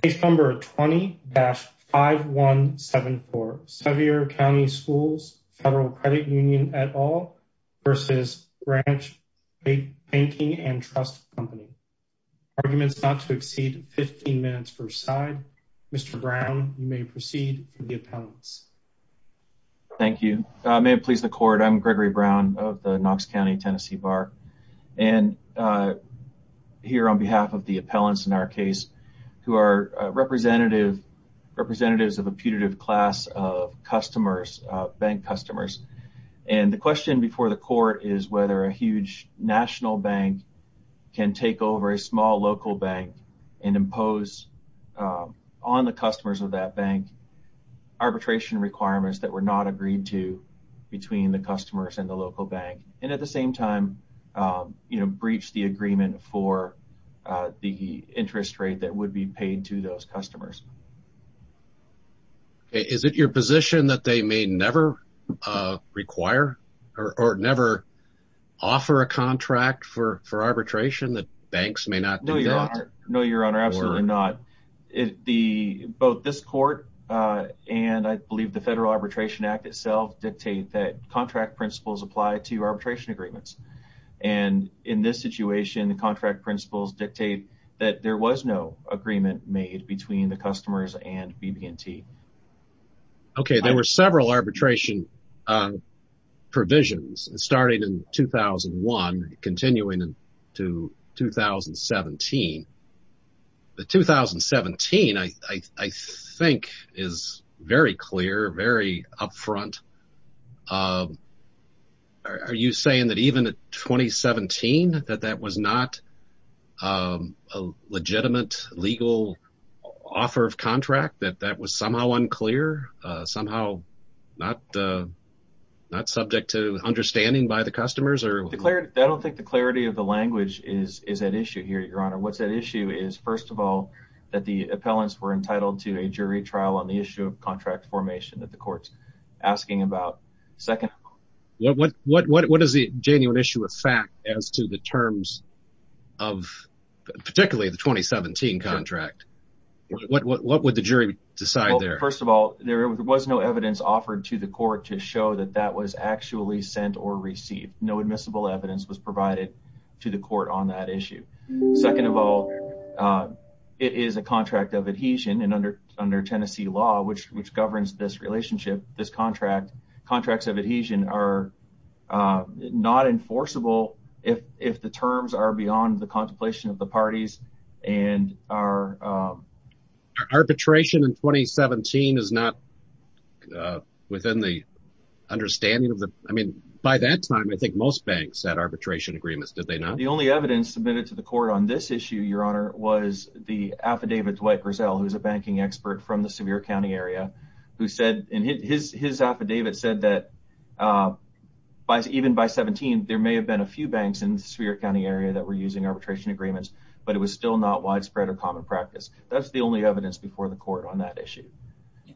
Case number 20-5174 Sevier County Schools Federal Credit Union et. al. v. Branch Banking and Trust Co Arguments not to exceed 15 minutes per side. Mr. Brown, you may proceed for the appellants. Thank you. May it please the court, I'm Gregory Brown of the Knox County, Tennessee Bar. And here on behalf of the appellants in our case, who are representatives of a putative class of customers, bank customers. And the question before the court is whether a huge national bank can take over a small local bank and impose on the customers of that bank arbitration requirements that were not agreed to between the customers and the local bank. And at the same time, you know, breach the agreement for the interest rate that would be paid to those customers. Is it your position that they may never require or never offer a contract for arbitration that banks may not know? No, Your Honor, absolutely not. Both this court and I believe the Federal Arbitration Act itself dictate that contract principles apply to arbitration agreements. And in this situation, the contract principles dictate that there was no agreement made between the customers and BB&T. OK, there were several arbitration provisions starting in 2001, continuing to 2017. The 2017, I think, is very clear, very upfront. Are you saying that even in 2017, that that was not a legitimate legal offer of contract, that that was somehow unclear, somehow not subject to understanding by the customers? I don't think the clarity of the language is at issue here, Your Honor. What's at issue is, first of all, that the appellants were entitled to a jury trial on the issue of contract formation that the court's asking about. Second, what is the genuine issue of fact as to the terms of particularly the 2017 contract? What would the jury decide there? First of all, there was no evidence offered to the court to show that that was actually sent or received. No admissible evidence was provided to the court on that issue. Second of all, it is a contract of adhesion. And under Tennessee law, which governs this relationship, this contract, contracts of adhesion are not enforceable if the terms are beyond the contemplation of the parties. And our arbitration in 2017 is not within the understanding of the. I mean, by that time, I think most banks had arbitration agreements. Did they not? The only evidence submitted to the court on this issue, Your Honor, was the affidavit Dwight Grisell, who is a banking expert from the Sevier County area, who said in his his affidavit said that by even by 17, there may have been a few banks in the county area that were using arbitration agreements, but it was still not widespread or common practice. That's the only evidence before the court on that issue.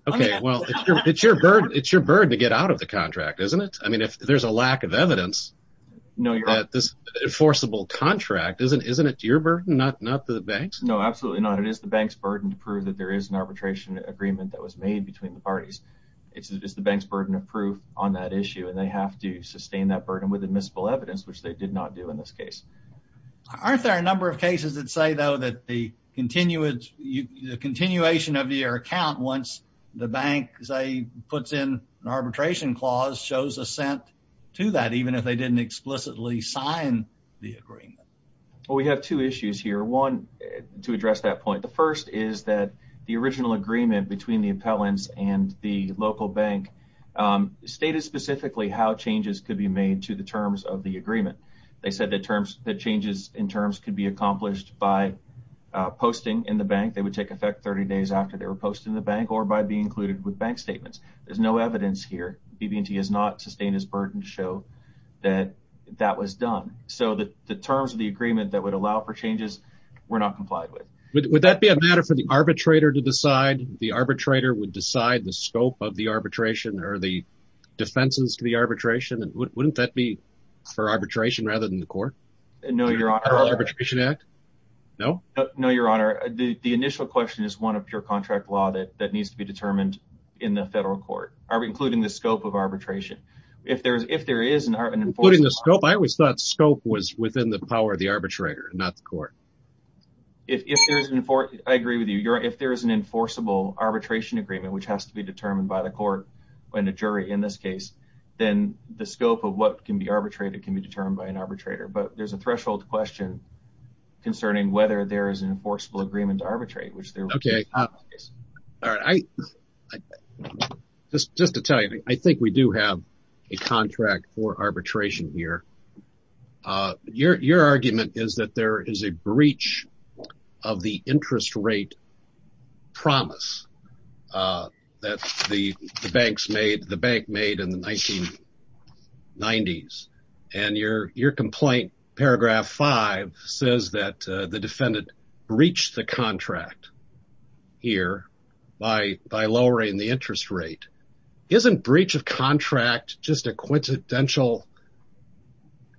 OK, well, it's your bird. It's your bird to get out of the contract, isn't it? I mean, if there's a lack of evidence, no, you're at this enforceable contract. Isn't isn't it your bird? Not not the banks? No, absolutely not. It is the bank's burden to prove that there is an arbitration agreement that was made between the parties. It's just the bank's burden of proof on that issue. And they have to sustain that burden with admissible evidence, which they did not do in this case. Aren't there a number of cases that say, though, that the continuous continuation of your account, once the bank, as I puts in an arbitration clause, shows assent to that, even if they didn't explicitly sign the agreement? Well, we have two issues here, one to address that point. The first is that the original agreement between the appellants and the local bank stated specifically how changes could be made to the terms of the agreement. They said that terms that changes in terms could be accomplished by posting in the bank. They would take effect 30 days after they were posted in the bank or by being included with bank statements. There's no evidence here. He has not sustained his burden to show that that was done. So the terms of the agreement that would allow for changes were not complied with. Would that be a matter for the arbitrator to decide? The arbitrator would decide the scope of the arbitration or the defenses to the arbitration. Wouldn't that be for arbitration rather than the court? No, Your Honor. Federal Arbitration Act? No? No, Your Honor. The initial question is one of your contract law that needs to be determined in the federal court, including the scope of arbitration. If there is an enforceable… Including the scope? I always thought scope was within the power of the arbitrator, not the court. I agree with you. If there is an enforceable arbitration agreement, which has to be determined by the court and the jury in this case, then the scope of what can be arbitrated can be determined by an arbitrator. But there's a threshold question concerning whether there is an enforceable agreement to arbitrate. Okay. Just to tell you, I think we do have a contract for arbitration here. Your argument is that there is a breach of the interest rate promise that the bank made in the 1990s. And your complaint, paragraph 5, says that the defendant breached the contract here by lowering the interest rate. Isn't breach of contract just a quintessential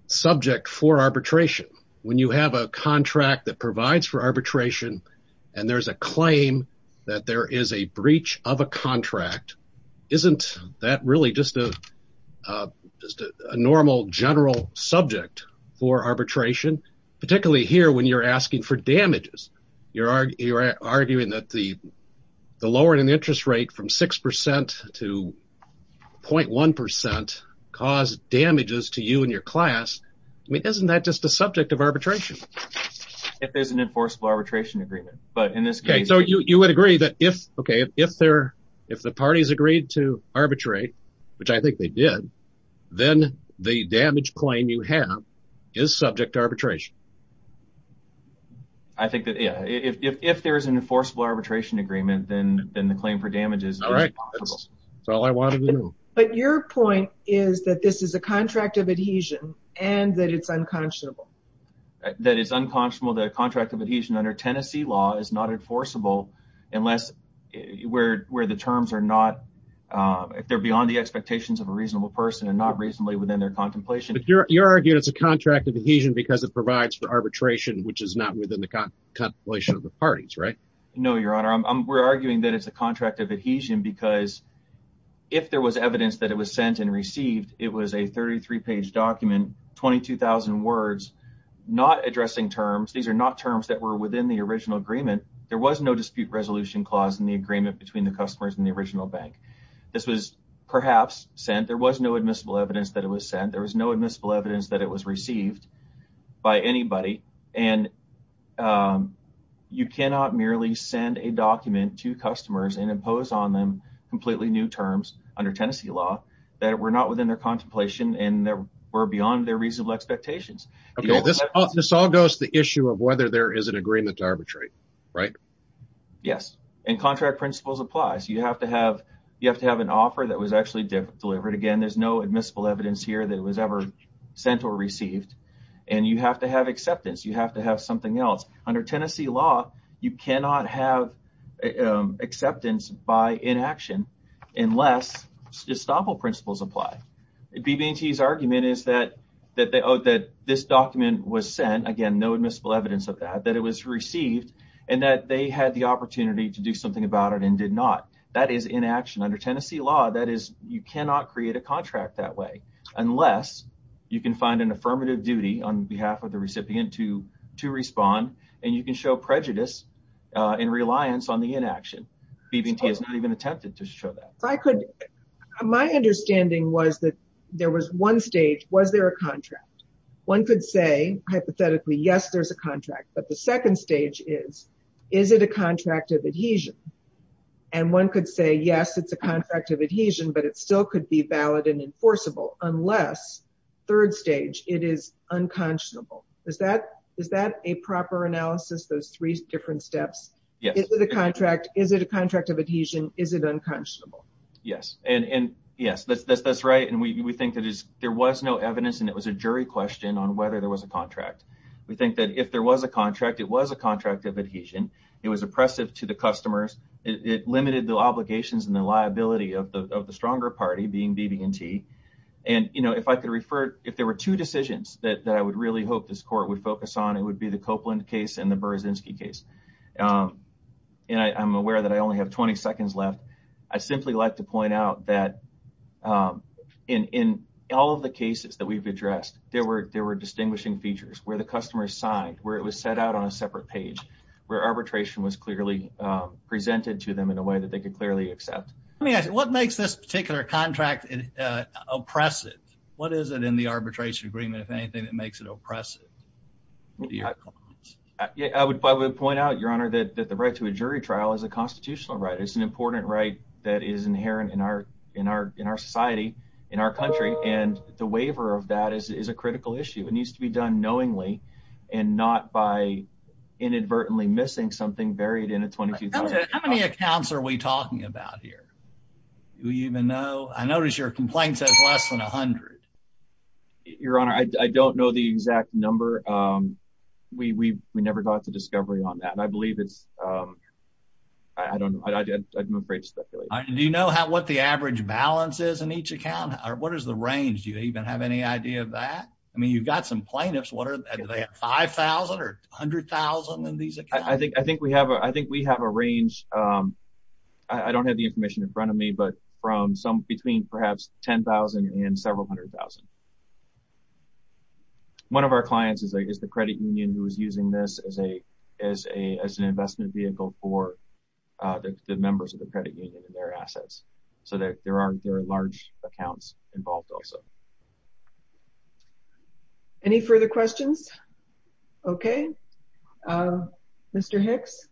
subject for arbitration? When you have a contract that provides for arbitration and there's a claim that there is a breach of a contract, isn't that really just a normal general subject for arbitration, particularly here when you're asking for damages? You're arguing that the lowering of the interest rate from 6% to 0.1% caused damages to you and your class. I mean, isn't that just a subject of arbitration? If there's an enforceable arbitration agreement. Okay, so you would agree that if the parties agreed to arbitrate, which I think they did, then the damage claim you have is subject to arbitration. I think that, yeah, if there is an enforceable arbitration agreement, then the claim for damages is possible. But your point is that this is a contract of adhesion and that it's unconscionable. That it's unconscionable that a contract of adhesion under Tennessee law is not enforceable unless where the terms are not, if they're beyond the expectations of a reasonable person and not reasonably within their contemplation. But you're arguing it's a contract of adhesion because it provides for arbitration, which is not within the contemplation of the parties, right? No, Your Honor, we're arguing that it's a contract of adhesion because if there was evidence that it was sent and received, it was a 33-page document, 22,000 words, not addressing terms. These are not terms that were within the original agreement. There was no dispute resolution clause in the agreement between the customers and the original bank. This was perhaps sent. There was no admissible evidence that it was sent. There was no admissible evidence that it was received by anybody. And you cannot merely send a document to customers and impose on them completely new terms under Tennessee law that were not within their contemplation and that were beyond their reasonable expectations. Okay, this all goes to the issue of whether there is an agreement to arbitrate, right? Yes, and contract principles applies. You have to have an offer that was actually delivered. Again, there's no admissible evidence here that it was ever sent or received. And you have to have acceptance. You have to have something else. Under Tennessee law, you cannot have acceptance by inaction unless estoppel principles apply. BB&T's argument is that this document was sent, again, no admissible evidence of that, that it was received, and that they had the opportunity to do something about it and did not. That is inaction. Under Tennessee law, that is you cannot create a contract that way unless you can find an affirmative duty on behalf of the recipient to respond, and you can show prejudice and reliance on the inaction. BB&T has not even attempted to show that. My understanding was that there was one stage, was there a contract? One could say, hypothetically, yes, there's a contract. But the second stage is, is it a contract of adhesion? And one could say, yes, it's a contract of adhesion, but it still could be valid and enforceable, unless third stage, it is unconscionable. Is that a proper analysis, those three different steps? Is it a contract? Is it a contract of adhesion? Is it unconscionable? Yes. And, yes, that's right. And we think there was no evidence, and it was a jury question on whether there was a contract. We think that if there was a contract, it was a contract of adhesion. It was oppressive to the customers. It limited the obligations and the liability of the stronger party, being BB&T. And, you know, if I could refer, if there were two decisions that I would really hope this court would focus on, it would be the Copeland case and the Berezinski case. And I'm aware that I only have 20 seconds left. I'd simply like to point out that in all of the cases that we've addressed, there were distinguishing features, where the customer signed, where it was set out on a separate page, where arbitration was clearly presented to them in a way that they could clearly accept. Let me ask you, what makes this particular contract oppressive? What is it in the arbitration agreement, if anything, that makes it oppressive? I would point out, Your Honor, that the right to a jury trial is a constitutional right. It's an important right that is inherent in our society, in our country, and the waiver of that is a critical issue. It needs to be done knowingly and not by inadvertently missing something buried in a 22,000- How many accounts are we talking about here? Do we even know? I notice your complaint says less than 100. Your Honor, I don't know the exact number. We never got to discovery on that. I believe it's, I don't know. I'm afraid to speculate. Do you know what the average balance is in each account? What is the range? Do you even have any idea of that? I mean, you've got some plaintiffs. Do they have 5,000 or 100,000 in these accounts? I think we have a range. I don't have the information in front of me, but between perhaps 10,000 and several hundred thousand. One of our clients is the credit union who is using this as an investment vehicle for the members of the credit union and their assets. So, there are large accounts involved also. Any further questions? Okay. Mr. Hicks.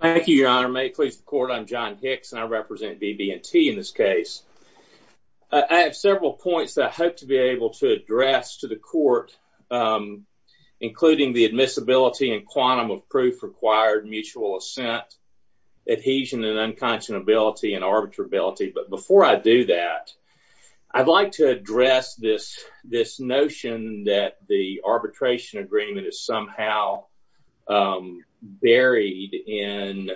Thank you, Your Honor. May it please the Court, I'm John Hicks, and I represent BB&T in this case. I have several points that I hope to be able to address to the Court, including the admissibility and quantum of proof required mutual assent, adhesion and unconscionability and arbitrability. But before I do that, I'd like to address this notion that the arbitration agreement is somehow buried in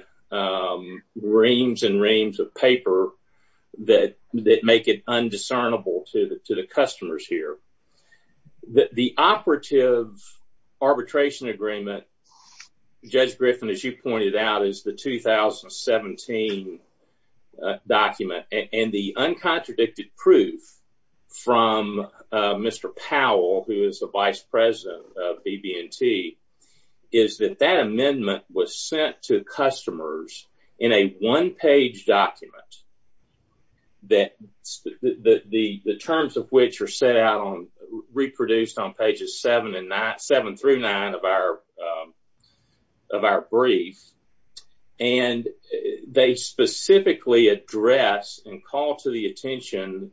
reams and reams of paper that make it undiscernible to the customers here. The operative arbitration agreement, Judge Griffin, as you pointed out, is the 2017 document. And the uncontradicted proof from Mr. Powell, who is the vice president of BB&T, is that that amendment was sent to customers in a one-page document, the terms of which are set out and reproduced on pages 7 through 9 of our brief. And they specifically address and call to the attention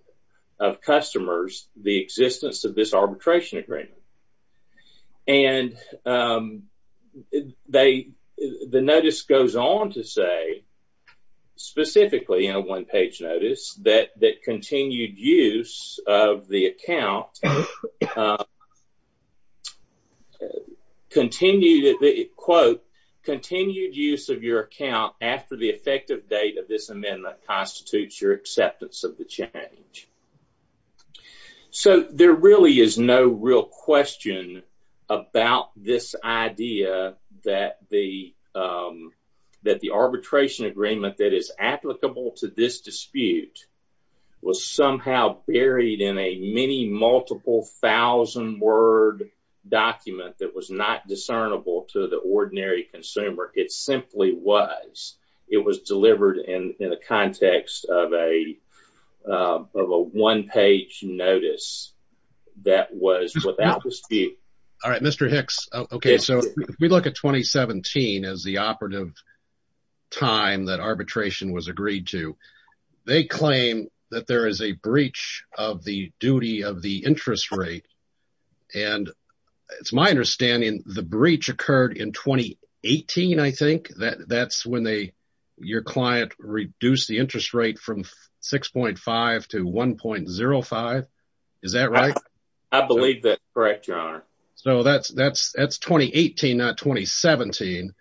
of customers the existence of this arbitration agreement. And the notice goes on to say, specifically in a one-page notice, that continued use of the account after the effective date of this amendment constitutes your acceptance of the change. So there really is no real question about this idea that the arbitration agreement that is applicable to this dispute was somehow buried in a many multiple thousand word document that was not discernible to the ordinary consumer. It simply was. It was delivered in the context of a one-page notice that was without dispute. All right, Mr. Hicks. Okay, so if we look at 2017 as the operative time that arbitration was agreed to, they claim that there is a breach of the duty of the interest rate. And it's my understanding the breach occurred in 2018, I think. That's when your client reduced the interest rate from 6.5 to 1.05. Is that right? I believe that's correct, Your Honor. So that's 2018, not 2017.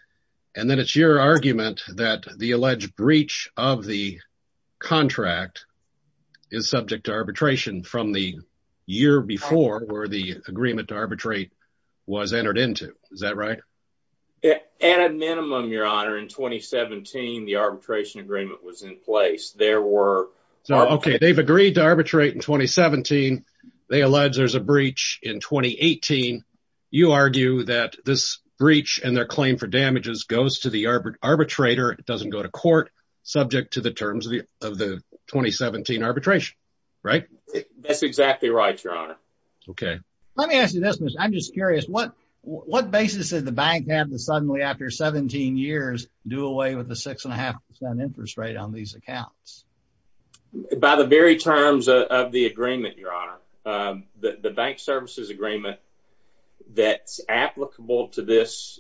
And then it's your argument that the alleged breach of the contract is subject to arbitration from the year before, where the agreement to arbitrate was entered into. Is that right? At a minimum, Your Honor, in 2017, the arbitration agreement was in place. Okay, they've agreed to arbitrate in 2017. They allege there's a breach in 2018. You argue that this breach and their claim for damages goes to the arbitrator. It doesn't go to court subject to the terms of the 2017 arbitration, right? That's exactly right, Your Honor. Okay, let me ask you this. I'm just curious. What basis did the bank have to suddenly, after 17 years, do away with the 6.5% interest rate on these accounts? By the very terms of the agreement, Your Honor. The bank services agreement that's applicable to this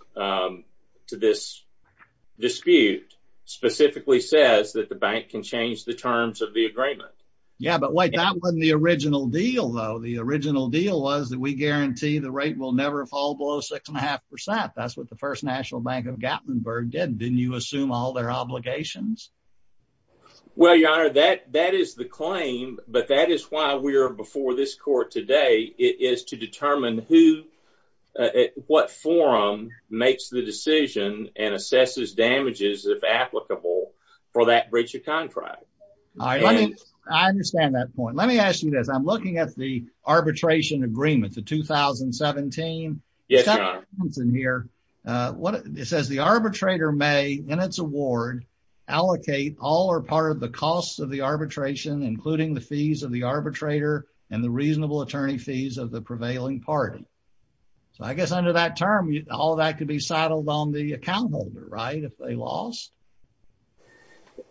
dispute specifically says that the bank can change the terms of the agreement. Yeah, but wait, that wasn't the original deal, though. The original deal was that we guarantee the rate will never fall below 6.5%. That's what the First National Bank of Gatlinburg did. Didn't you assume all their obligations? Well, Your Honor, that is the claim, but that is why we are before this court today. It is to determine what forum makes the decision and assesses damages, if applicable, for that breach of contract. I understand that point. Let me ask you this. I'm looking at the arbitration agreement, the 2017. Yes, Your Honor. It says the arbitrator may, in its award, allocate all or part of the costs of the arbitration, including the fees of the arbitrator and the reasonable attorney fees of the prevailing party. So I guess under that term, all that could be settled on the account holder, right? If they lost?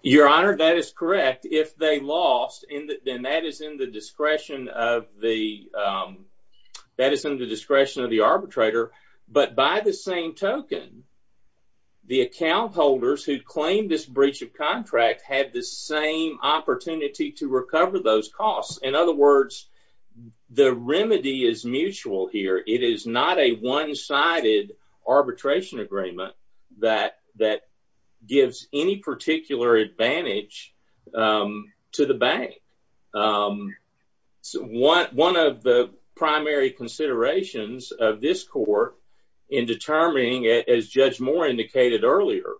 Your Honor, that is correct. In fact, if they lost, then that is in the discretion of the arbitrator. But by the same token, the account holders who claimed this breach of contract had the same opportunity to recover those costs. In other words, the remedy is mutual here. It is not a one-sided arbitration agreement that gives any particular advantage to the bank. One of the primary considerations of this court in determining, as Judge Moore indicated earlier,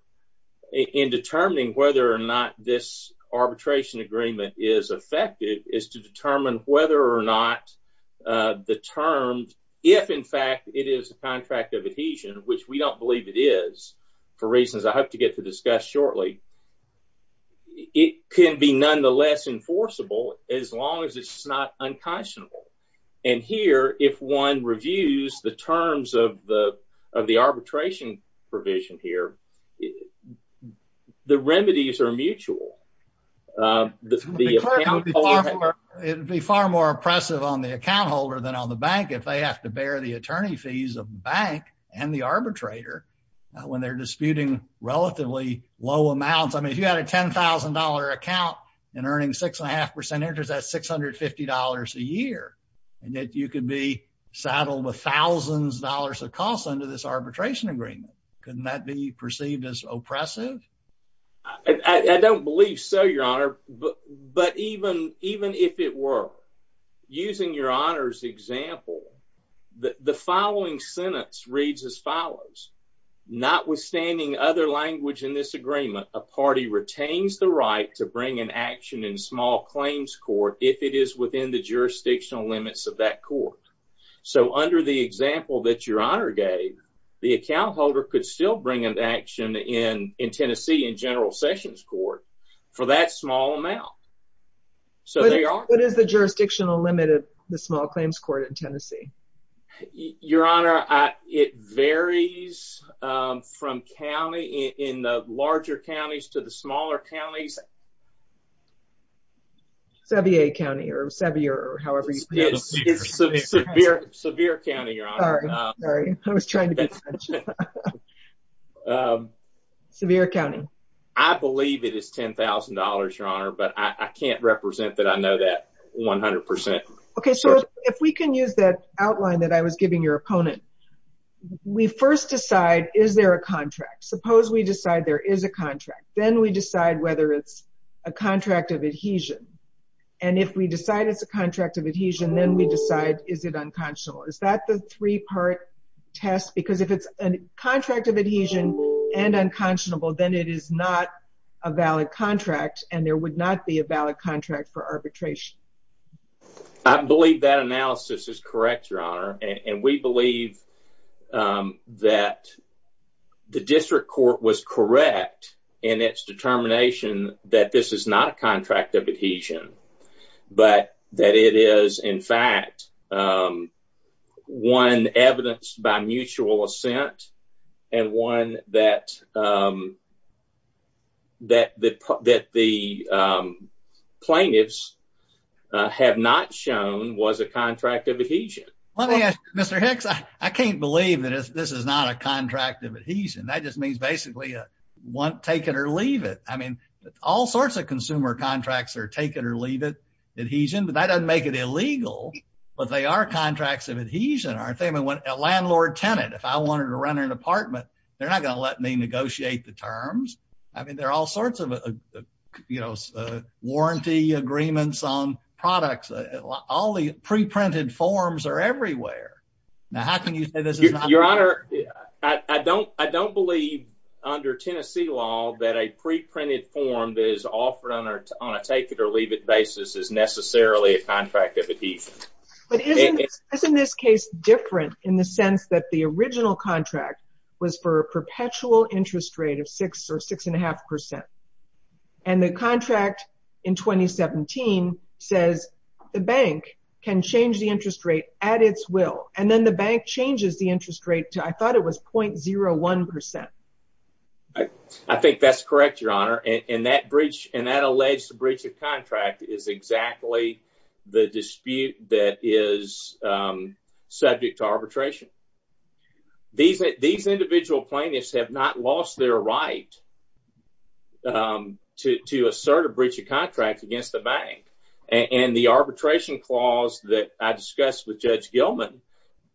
in determining whether or not this arbitration agreement is effective, is to determine whether or not the terms, if in fact it is a contract of adhesion, which we don't believe it is for reasons I hope to get to discuss shortly, it can be nonetheless enforceable as long as it's not unconscionable. And here, if one reviews the terms of the arbitration provision here, the remedies are mutual. It would be far more oppressive on the account holder than on the bank if they have to bear the attorney fees of the bank and the arbitrator when they're disputing relatively low amounts. I mean, if you had a $10,000 account and earning 6.5% interest, that's $650 a year. And yet you could be saddled with thousands of dollars of costs under this arbitration agreement. Couldn't that be perceived as oppressive? I don't believe so, Your Honor. But even if it were, using Your Honor's example, the following sentence reads as follows. Notwithstanding other language in this agreement, a party retains the right to bring an action in small claims court if it is within the jurisdictional limits of that court. So under the example that Your Honor gave, the account holder could still bring an action in Tennessee in General Sessions Court for that small amount. Your Honor, it varies from county in the larger counties to the smaller counties. I believe it is $10,000, Your Honor, but I can't represent that I know that 100%. Okay, so if we can use that outline that I was giving your opponent, we first decide, is there a contract? Suppose we decide there is a contract. Then we decide whether it's a contract of adhesion. And if we decide it's a contract of adhesion, then we decide, is it unconscionable? Is that the three-part test? Because if it's a contract of adhesion and unconscionable, then it is not a valid contract, and there would not be a valid contract for arbitration. I believe that analysis is correct, Your Honor, and we believe that the district court was correct in its determination that this is not a contract of adhesion, but that it is, in fact, one evidenced by mutual assent and one that the plaintiffs have not shown was a contract of adhesion. Let me ask you, Mr. Hicks, I can't believe that this is not a contract of adhesion. That just means basically take it or leave it. I mean, all sorts of consumer contracts are take-it-or-leave-it adhesion, but that doesn't make it illegal, but they are contracts of adhesion, aren't they? I mean, a landlord-tenant, if I wanted to rent an apartment, they're not going to let me negotiate the terms. I mean, there are all sorts of warranty agreements on products. All the pre-printed forms are everywhere. Now, how can you say this is not legal? Your Honor, I don't believe under Tennessee law that a pre-printed form that is offered on a take-it-or-leave-it basis is necessarily a contract of adhesion. But isn't this case different in the sense that the original contract was for a perpetual interest rate of 6% or 6.5%? And the contract in 2017 says the bank can change the interest rate at its will, and then the bank changes the interest rate to, I thought it was, 0.01%. I think that's correct, Your Honor, and that alleged breach of contract is exactly the dispute that is subject to arbitration. These individual plaintiffs have not lost their right to assert a breach of contract against the bank, and the arbitration clause that I discussed with Judge Gilman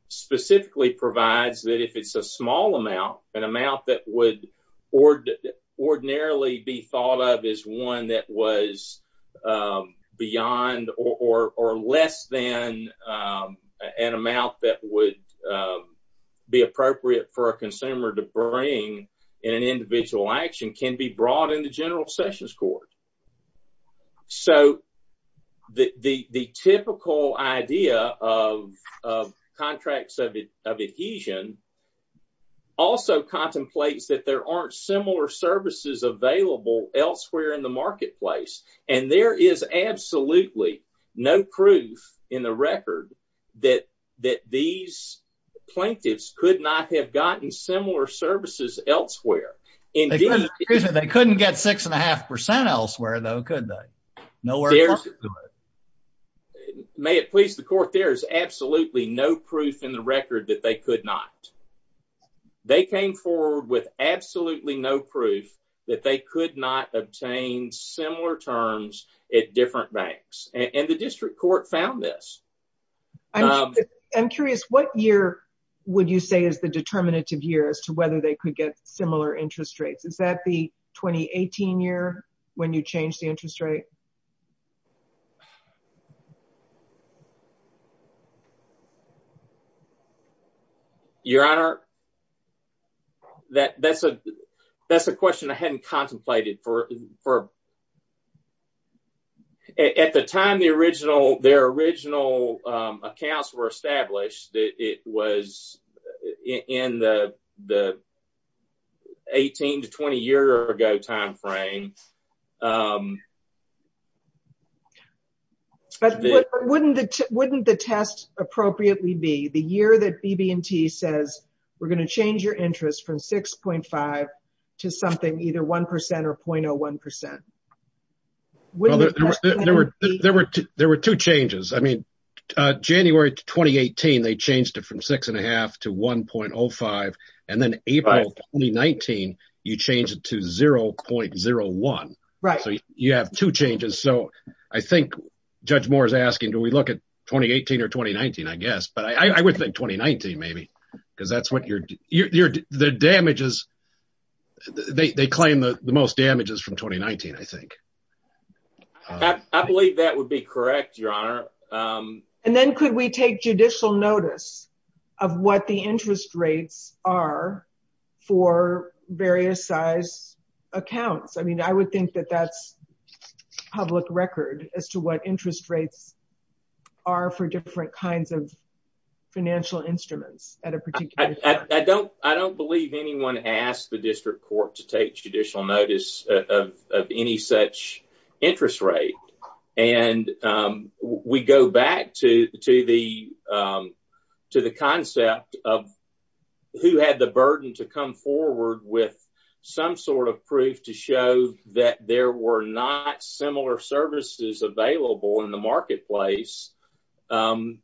specifically provides that if it's a small amount, an amount that would ordinarily be thought of as one that was beyond or less than an amount that would be appropriate for a consumer to bring in an individual action can be brought into general sessions court. So the typical idea of contracts of adhesion also contemplates that there aren't similar services available elsewhere in the marketplace, and there is absolutely no proof in the record that these plaintiffs could not have gotten similar services elsewhere. They couldn't get 6.5% elsewhere, though, could they? May it please the court, there is absolutely no proof in the record that they could not. They came forward with absolutely no proof that they could not obtain similar terms at different banks, and the district court found this. I'm curious, what year would you say is the determinative year as to whether they could get similar interest rates? Is that the 2018 year when you changed the interest rate? Your Honor, that's a question I hadn't contemplated. At the time their original accounts were established, it was in the 18 to 20-year-ago timeframe. But wouldn't the test appropriately be the year that BB&T says, we're going to change your interest from 6.5% to something either 1% or 0.01%? There were two changes. January 2018, they changed it from 6.5% to 1.05%, and then April 2019, you changed it to 0.01%. You have two changes. I think Judge Moore is asking, do we look at 2018 or 2019, I guess. But I would think 2019, maybe. I believe that would be correct, Your Honor. And then could we take judicial notice of what the interest rates are for various size accounts? I mean, I would think that that's public record as to what interest rates are for different kinds of financial instruments at a particular time. I don't believe anyone asked the district court to take judicial notice of any such interest rate. And we go back to the concept of who had the burden to come forward with some sort of proof to show that there were not similar services available in the marketplace. And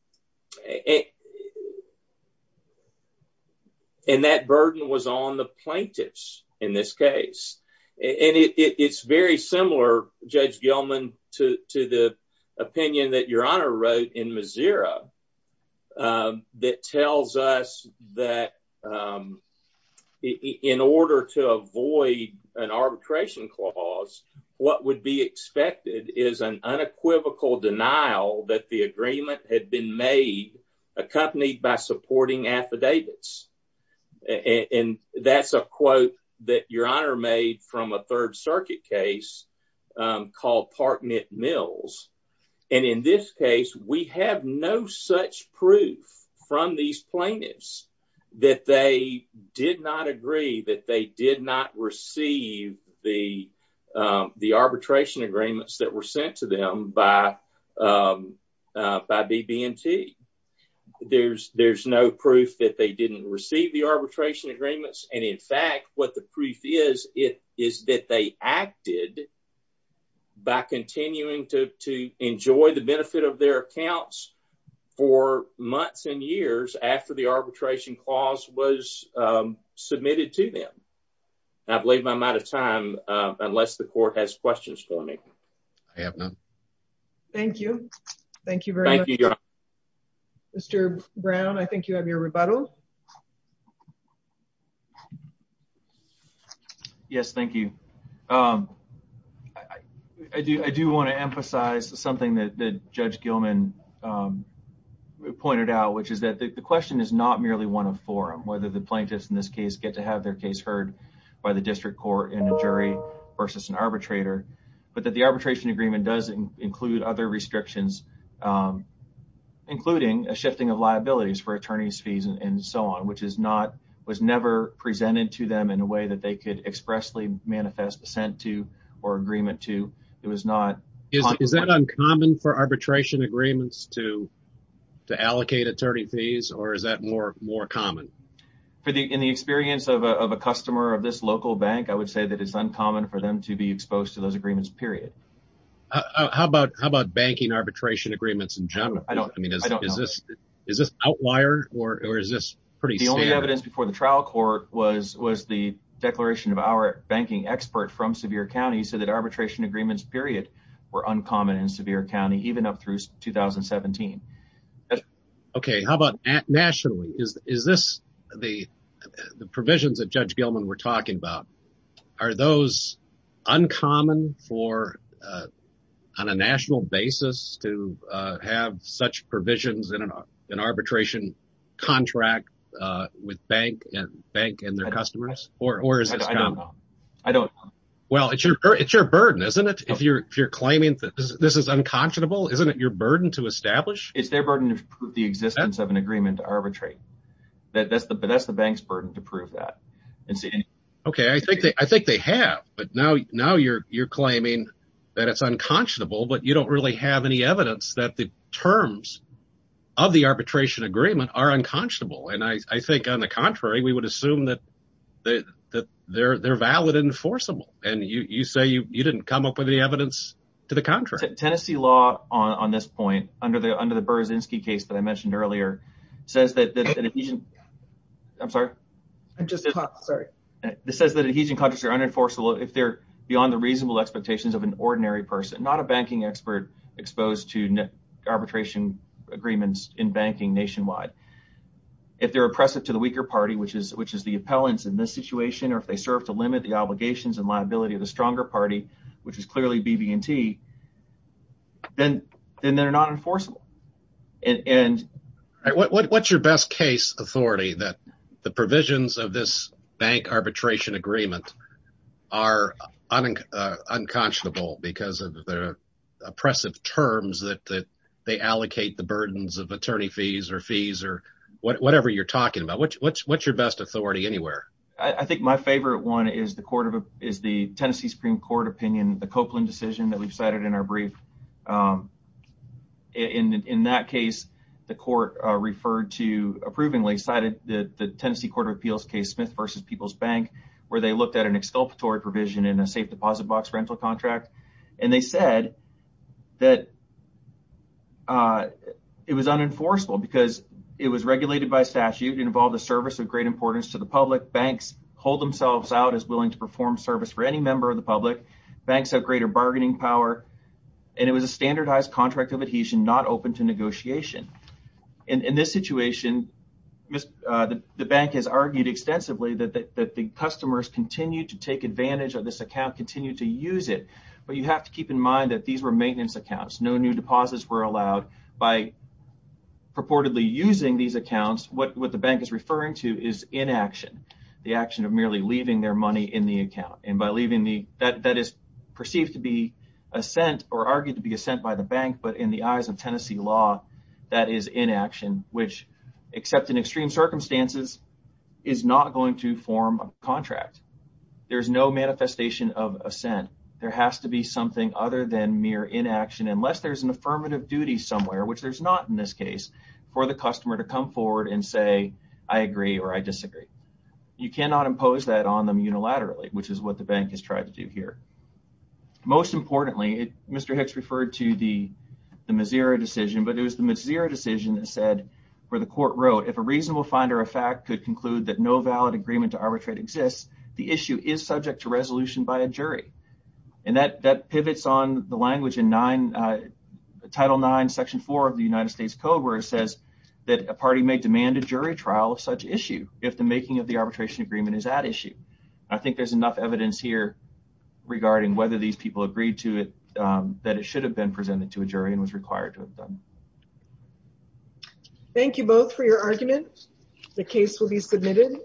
that burden was on the plaintiffs in this case. And it's very similar, Judge Gilman, to the opinion that Your Honor wrote in Mazira that tells us that in order to avoid an arbitration clause, what would be expected is an unequivocal denial that the agreement had been made accompanied by supporting affidavits. And that's a quote that Your Honor made from a Third Circuit case called Parknett Mills. And in this case, we have no such proof from these plaintiffs that they did not agree, that they did not receive the arbitration agreements that were sent to them by BB&T. There's no proof that they didn't receive the arbitration agreements. And in fact, what the proof is, is that they acted by continuing to enjoy the benefit of their accounts for months and years after the arbitration clause was submitted to them. And I believe I'm out of time unless the court has questions for me. I have none. Thank you. Mr. Brown, I think you have your rebuttal. Yes, thank you. I do want to emphasize something that Judge Gilman pointed out, which is that the question is not merely one of forum, whether the plaintiffs in this case get to have their case heard by the district court in a jury versus an arbitrator, but that the arbitration agreement does include other restrictions, including a shifting of liabilities for attorney's fees and so on, which was never presented to them in a way that they could expressly manifest assent to or agreement to. Is that uncommon for arbitration agreements to allocate attorney fees, or is that more common? In the experience of a customer of this local bank, I would say that it's uncommon for them to be exposed to those agreements, period. How about banking arbitration agreements in general? I don't know. Is this outlier, or is this pretty standard? The only evidence before the trial court was the declaration of our banking expert from Sevier County, who said that arbitration agreements, period, were uncommon in Sevier County, even up through 2017. Okay, how about nationally? Is this the provisions that Judge Gilman were talking about, are those uncommon on a national basis to have such provisions in an arbitration contract with bank and their customers, or is this common? I don't know. Well, it's your burden, isn't it? If you're claiming that this is unconscionable, isn't it your burden to establish? It's their burden to prove the existence of an agreement to arbitrate. That's the bank's burden to prove that. Okay, I think they have, but now you're claiming that it's unconscionable, but you don't really have any evidence that the terms of the arbitration agreement are unconscionable, and I think, on the contrary, we would assume that they're valid and enforceable, and you say you didn't come up with any evidence to the contrary. Tennessee law on this point, under the Berzinski case that I mentioned earlier, says that adhesion contracts are unenforceable if they're beyond the reasonable expectations of an ordinary person, not a banking expert exposed to arbitration agreements in banking nationwide. If they're oppressive to the weaker party, which is the appellants in this situation, or if they serve to limit the obligations and liability of the stronger party, which is clearly BB&T, then they're not enforceable. What's your best case authority that the provisions of this bank arbitration agreement are unconscionable because of the oppressive terms that they allocate the burdens of attorney fees or fees or whatever you're talking about? What's your best authority anywhere? I think my favorite one is the Tennessee Supreme Court opinion, the Copeland decision that we've cited in our brief. In that case, the court referred to, approvingly cited, the Tennessee Court of Appeals case Smith v. People's Bank, where they looked at an exculpatory provision in a safe deposit box rental contract, and they said that it was unenforceable because it was regulated by statute and involved a service of great importance to the public. Banks hold themselves out as willing to perform service for any member of the public. Banks have greater bargaining power, and it was a standardized contract of adhesion, not open to negotiation. In this situation, the bank has argued extensively that the customers continue to take advantage of this account, continue to use it, but you have to keep in mind that these were maintenance accounts. No new deposits were allowed. By purportedly using these accounts, what the bank is referring to is inaction, the action of merely leaving their money in the account. That is perceived to be assent or argued to be assent by the bank, but in the eyes of Tennessee law, that is inaction, which, except in extreme circumstances, is not going to form a contract. There's no manifestation of assent. There has to be something other than mere inaction, unless there's an affirmative duty somewhere, which there's not in this case, for the customer to come forward and say, I agree or I disagree. You cannot impose that on them unilaterally, which is what the bank has tried to do here. Most importantly, Mr. Hicks referred to the Mazira decision, but it was the Mazira decision that said, where the court wrote, if a reasonable finder of fact could conclude that no valid agreement to arbitrate exists, the issue is subject to resolution by a jury. That pivots on the language in Title IX, Section 4 of the United States Code, where it says that a party may demand a jury trial of such issue if the making of the arbitration agreement is at issue. I think there's enough evidence here regarding whether these people agreed to it, that it should have been presented to a jury and was required to have done. Thank you both for your argument. The case will be submitted.